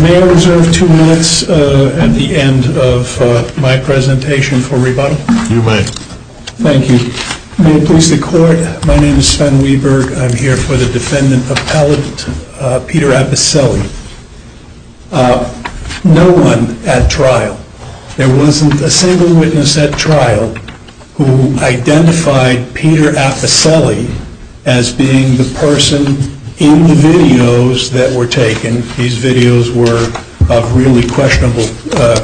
May I reserve two minutes at the end of my presentation for rebuttal? You may. Thank you. May it please the court, my name is Sven Wieberg. I'm here for the defendant appellate Peter Apicelli. No one at trial, there wasn't a single witness at trial who identified Peter Apicelli as being the person in the videos that were taken. These videos were of really questionable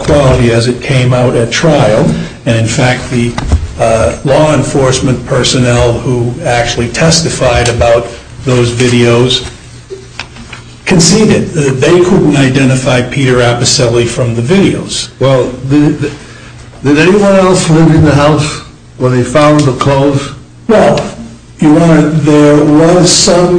quality as it came out at trial, and in fact the law enforcement personnel who actually testified about those videos conceded that they couldn't identify Peter Apicelli from the videos. Well, did anyone else live in the house where they found the clothes? Well, Your Honor, there was some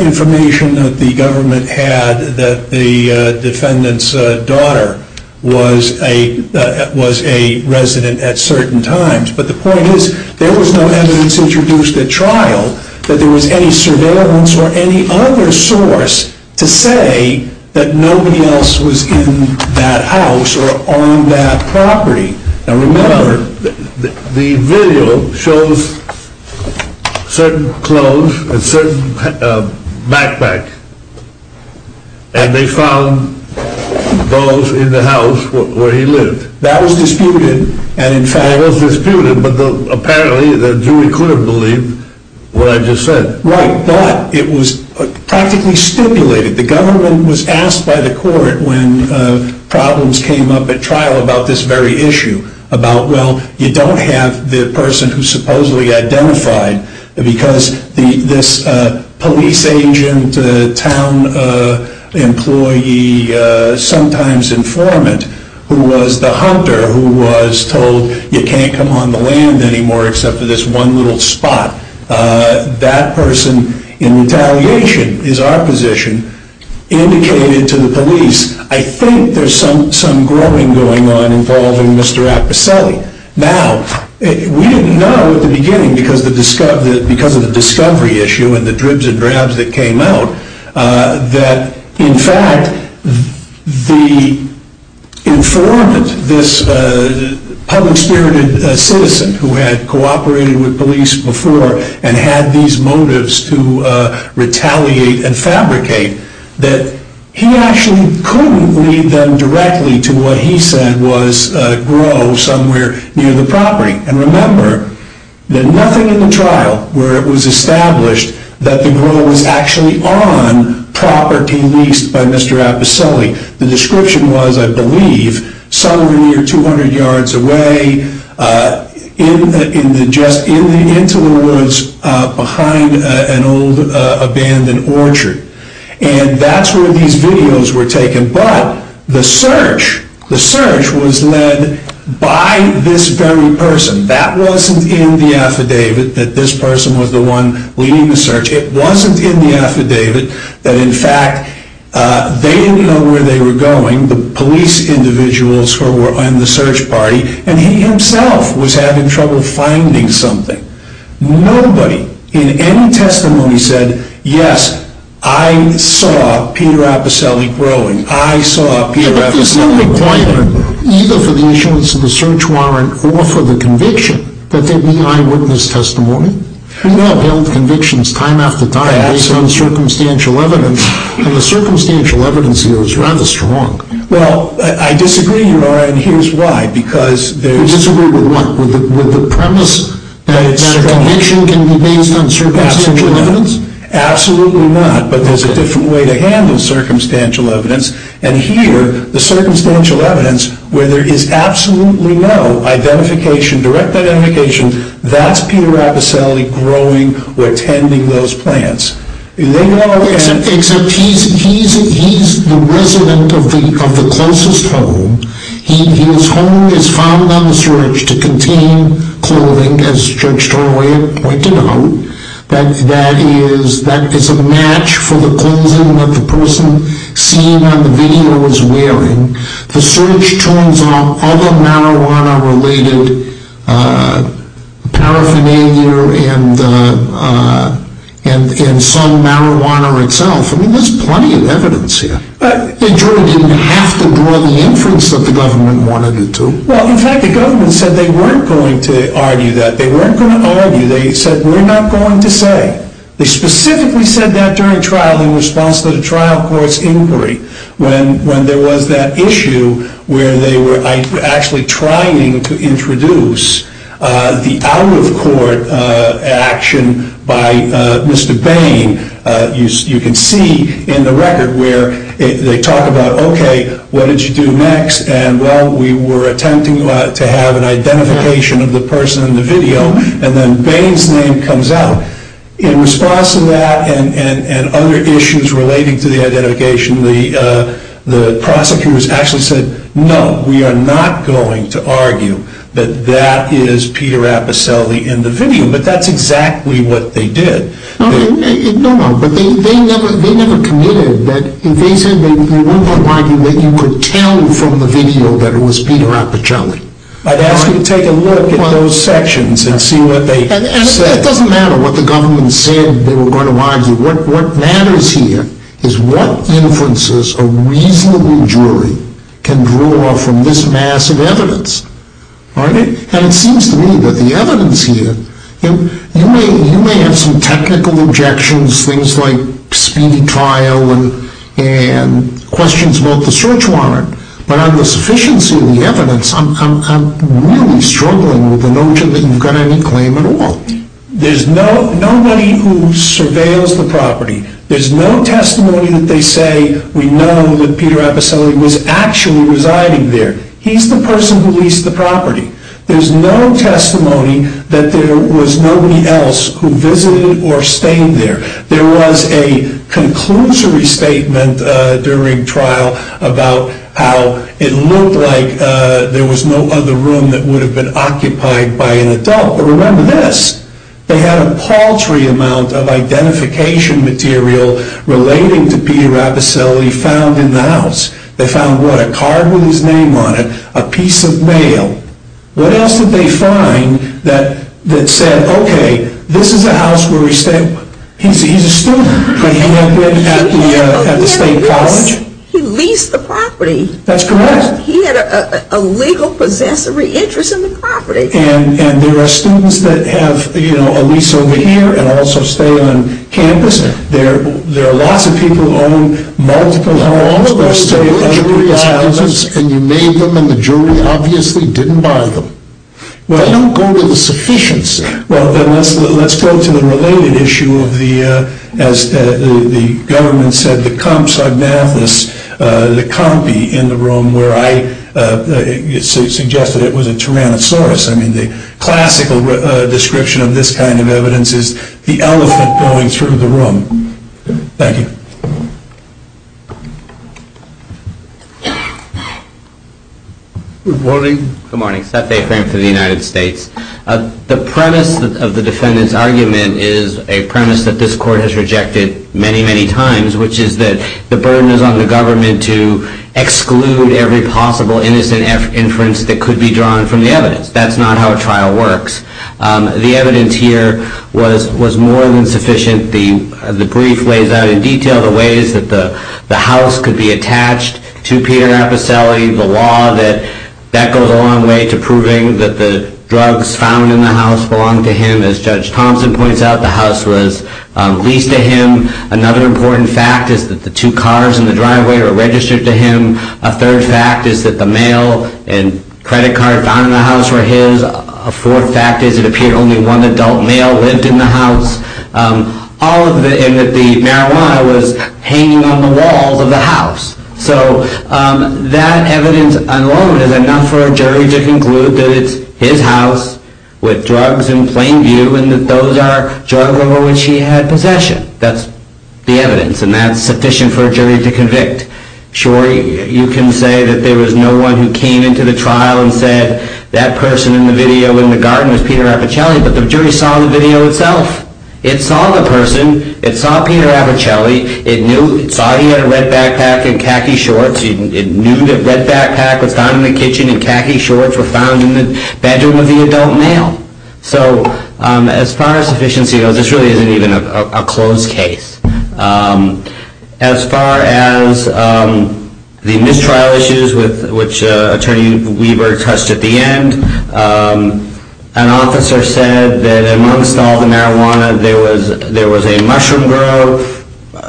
information that the government had that the defendant's daughter was a resident at certain times, but the point is there was no evidence introduced at trial that there was any surveillance or any other source to say that nobody else was in that house or on that property. Now remember, the video shows certain clothes and certain backpacks, and they found those in the house where he lived. That was disputed. That was disputed, but apparently the jury couldn't believe what I just said. Right, but it was practically stipulated. The government was asked by the court when problems came up at trial about this very issue, about, well, you don't have the person who supposedly identified because this police agent, town employee, sometimes informant, who was the hunter who was told you can't come on the land anymore except for this one little spot. That person, in retaliation, is our position, indicated to the police, I think there's some growing going on involving Mr. Apicelli. Now, we didn't know at the beginning because of the discovery issue and the dribs and drabs that came out that, in fact, the informant, this public-spirited citizen who had cooperated with police before and had these motives to retaliate and fabricate, that he actually couldn't lead them directly to what he said was a grove somewhere near the property. And remember, there's nothing in the trial where it was established that the grove was actually on property leased by Mr. Apicelli. The description was, I believe, somewhere near 200 yards away, just into the woods behind an old abandoned orchard. And that's where these videos were taken, but the search was led by this very person. That wasn't in the affidavit that this person was the one leading the search. It wasn't in the affidavit that, in fact, they didn't know where they were going, the police individuals who were on the search party, and he himself was having trouble finding something. Nobody in any testimony said, yes, I saw Peter Apicelli growing. But there's no requirement, either for the issuance of the search warrant or for the conviction, that there be eyewitness testimony. We have held convictions time after time based on circumstantial evidence, and the circumstantial evidence here is rather strong. Well, I disagree, Your Honor, and here's why. You disagree with what? With the premise that a conviction can be based on circumstantial evidence? Absolutely not, but there's a different way to handle circumstantial evidence. And here, the circumstantial evidence, where there is absolutely no identification, direct identification, that's Peter Apicelli growing or tending those plants. Except he's the resident of the closest home. His home is found on the search to contain clothing, as Judge Troy had pointed out, that is a match for the clothing that the person seen on the video was wearing. The search turns on other marijuana-related paraphernalia and some marijuana itself. I mean, there's plenty of evidence here. But Judge Troy didn't have to draw the inference that the government wanted him to. Well, in fact, the government said they weren't going to argue that. They weren't going to argue. They said, we're not going to say. They specifically said that during trial in response to the trial court's inquiry, when there was that issue where they were actually trying to introduce the out-of-court action by Mr. Bain. You can see in the record where they talk about, OK, what did you do next? And well, we were attempting to have an identification of the person in the video. And then Bain's name comes out. In response to that and other issues relating to the identification, the prosecutors actually said, no, we are not going to argue that that is Peter Apicelli in the video. But that's exactly what they did. No, no. But they never committed that if they said they weren't going to argue that you could tell from the video that it was Peter Apicelli. I'd ask you to take a look at those sections and see what they said. And it doesn't matter what the government said they were going to argue. What matters here is what inferences a reasonable jury can draw from this massive evidence. And it seems to me that the evidence here, you may have some technical objections, things like speedy trial and questions about the search warrant. But on the sufficiency of the evidence, I'm really struggling with the notion that you've got any claim at all. There's nobody who surveils the property. There's no testimony that they say we know that Peter Apicelli was actually residing there. He's the person who leased the property. There's no testimony that there was nobody else who visited or stayed there. There was a conclusory statement during trial about how it looked like there was no other room that would have been occupied by an adult. But remember this. They had a paltry amount of identification material relating to Peter Apicelli found in the house. They found, what, a card with his name on it, a piece of mail. What else did they find that said, okay, this is a house where he stayed? He's a student. Could he have been at the State College? He leased the property. That's correct. He had a legal possessory interest in the property. And there are students that have a lease over here and also stay on campus. There are lots of people who own multiple homes. And you made them and the jury obviously didn't buy them. They don't go to the sufficiency. Well, then let's go to the related issue of the, as the government said, the compsognathus, the compi in the room where I suggested it was a tyrannosaurus. I mean, the classical description of this kind of evidence is the elephant going through the room. Thank you. Good morning. Good morning. Seth A. Frank for the United States. The premise of the defendant's argument is a premise that this court has rejected many, many times, which is that the burden is on the government to exclude every possible innocent inference that could be drawn from the evidence. That's not how a trial works. The evidence here was more than sufficient. The brief lays out in detail the ways that the house could be attached to Peter Apicelli, the law that goes a long way to proving that the drugs found in the house belong to him. As Judge Thompson points out, the house was leased to him. Another important fact is that the two cars in the driveway are registered to him. A third fact is that the mail and credit card found in the house were his. A fourth fact is it appeared only one adult male lived in the house, and that the marijuana was hanging on the walls of the house. So that evidence alone is enough for a jury to conclude that it's his house with drugs in plain view and that those are drugs over which he had possession. That's the evidence, and that's sufficient for a jury to convict. Sure, you can say that there was no one who came into the trial and said, that person in the video in the garden was Peter Apicelli, but the jury saw the video itself. It saw the person. It saw Peter Apicelli. It saw he had a red backpack and khaki shorts. It knew that red backpack was found in the kitchen and khaki shorts were found in the bedroom of the adult male. So as far as sufficiency goes, this really isn't even a closed case. As far as the mistrial issues, which Attorney Weaver touched at the end, an officer said that amongst all the marijuana, there was a mushroom grove.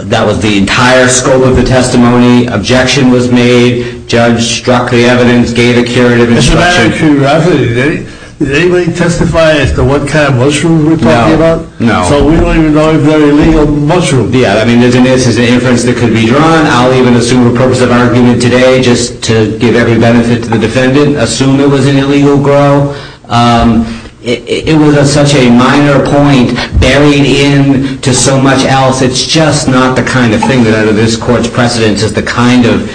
That was the entire scope of the testimony. Objection was made. Judge struck the evidence, gave a curative instruction. Mr. Madigan, did anybody testify as to what kind of mushroom we're talking about? No. So we don't even know if they're illegal mushrooms. Yeah. I mean, there's an inference that could be drawn. I'll even assume a purpose of argument today just to give every benefit to the defendant, assume it was an illegal grove. It was such a minor point buried in to so much else. It's just not the kind of thing that under this Court's precedence is the kind of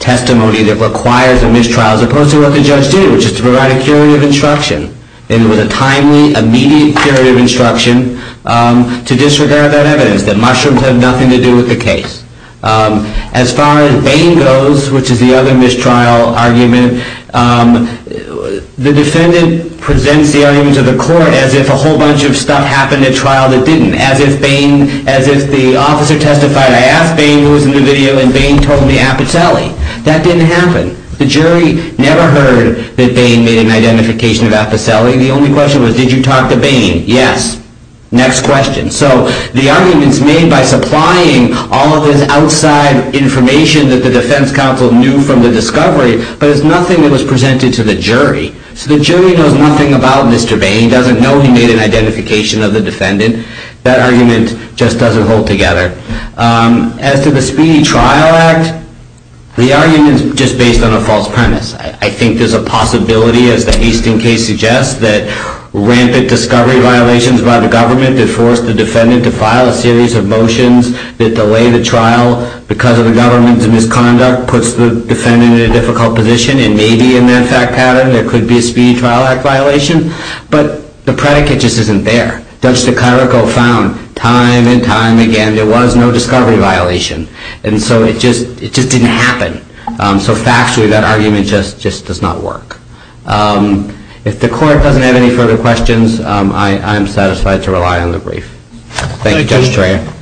testimony that requires a mistrial, as opposed to what the judge did, which is to provide a curative instruction. And it was a timely, immediate curative instruction to disregard that evidence, that mushrooms have nothing to do with the case. As far as Bain goes, which is the other mistrial argument, the defendant presents the argument to the Court as if a whole bunch of stuff happened at trial that didn't, as if the officer testified, I asked Bain who was in the video, and Bain told me Apicelli. That didn't happen. The jury never heard that Bain made an identification of Apicelli. The only question was, did you talk to Bain? Yes. Next question. So the argument's made by supplying all of this outside information that the defense counsel knew from the discovery, but it's nothing that was presented to the jury. So the jury knows nothing about Mr. Bain, doesn't know he made an identification of the defendant. That argument just doesn't hold together. As to the Speedy Trial Act, the argument is just based on a false premise. I think there's a possibility, as the Hastings case suggests, that rampant discovery violations by the government that forced the defendant to file a series of motions that delay the trial because of the government's misconduct puts the defendant in a difficult position, and maybe in that fact pattern there could be a Speedy Trial Act violation. But the predicate just isn't there. Judge DeCairoco found time and time again there was no discovery violation. And so it just didn't happen. So factually that argument just does not work. If the court doesn't have any further questions, I am satisfied to rely on the brief. Thank you, Judge Dreher.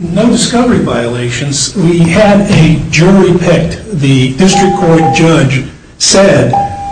No discovery violations. We had a jury picked. The district court judge said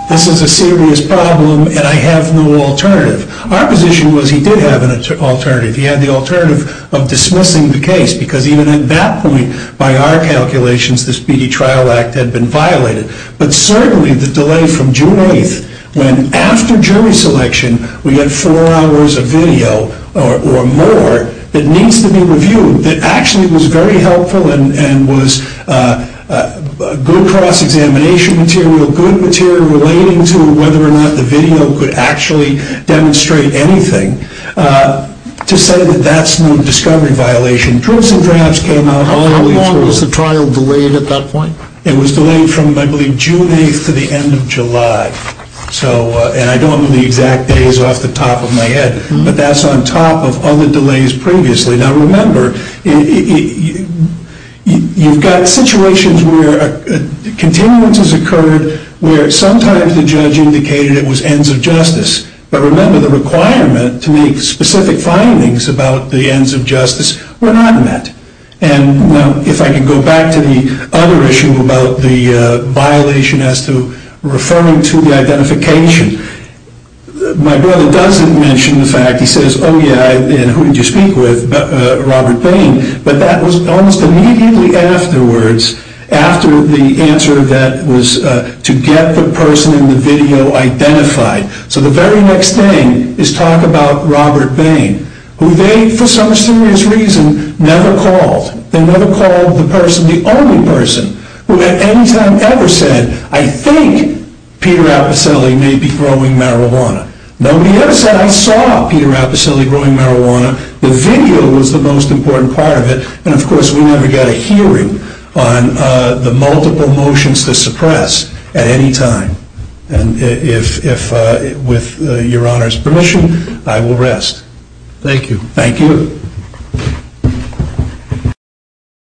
this is a serious problem and I have no alternative. Our position was he did have an alternative. He had the alternative of dismissing the case because even at that point, by our calculations, the Speedy Trial Act had been violated. But certainly the delay from June 8th when after jury selection we had four hours of video or more that needs to be reviewed that actually was very helpful and was good cross-examination material, good material relating to whether or not the video could actually demonstrate anything, to say that that's no discovery violation. Troops and drafts came out. How long was the trial delayed at that point? It was delayed from, I believe, June 8th to the end of July. And I don't know the exact days off the top of my head, but that's on top of other delays previously. Now remember, you've got situations where continuances occurred where sometimes the judge indicated it was ends of justice. But remember, the requirement to make specific findings about the ends of justice were not met. And now if I can go back to the other issue about the violation as to referring to the identification, my brother doesn't mention the fact, he says, oh yeah, and who did you speak with? Robert Bain. But that was almost immediately afterwards, after the answer that was to get the person in the video identified. So the very next thing is talk about Robert Bain, who they, for some serious reason, never called. They never called the person, the only person, who at any time ever said, I think Peter Apicelli may be throwing marijuana. Nobody ever said, I saw Peter Apicelli throwing marijuana. The video was the most important part of it. And of course, we never got a hearing on the multiple motions to suppress at any time. And if, with your Honor's permission, I will rest. Thank you. Thank you.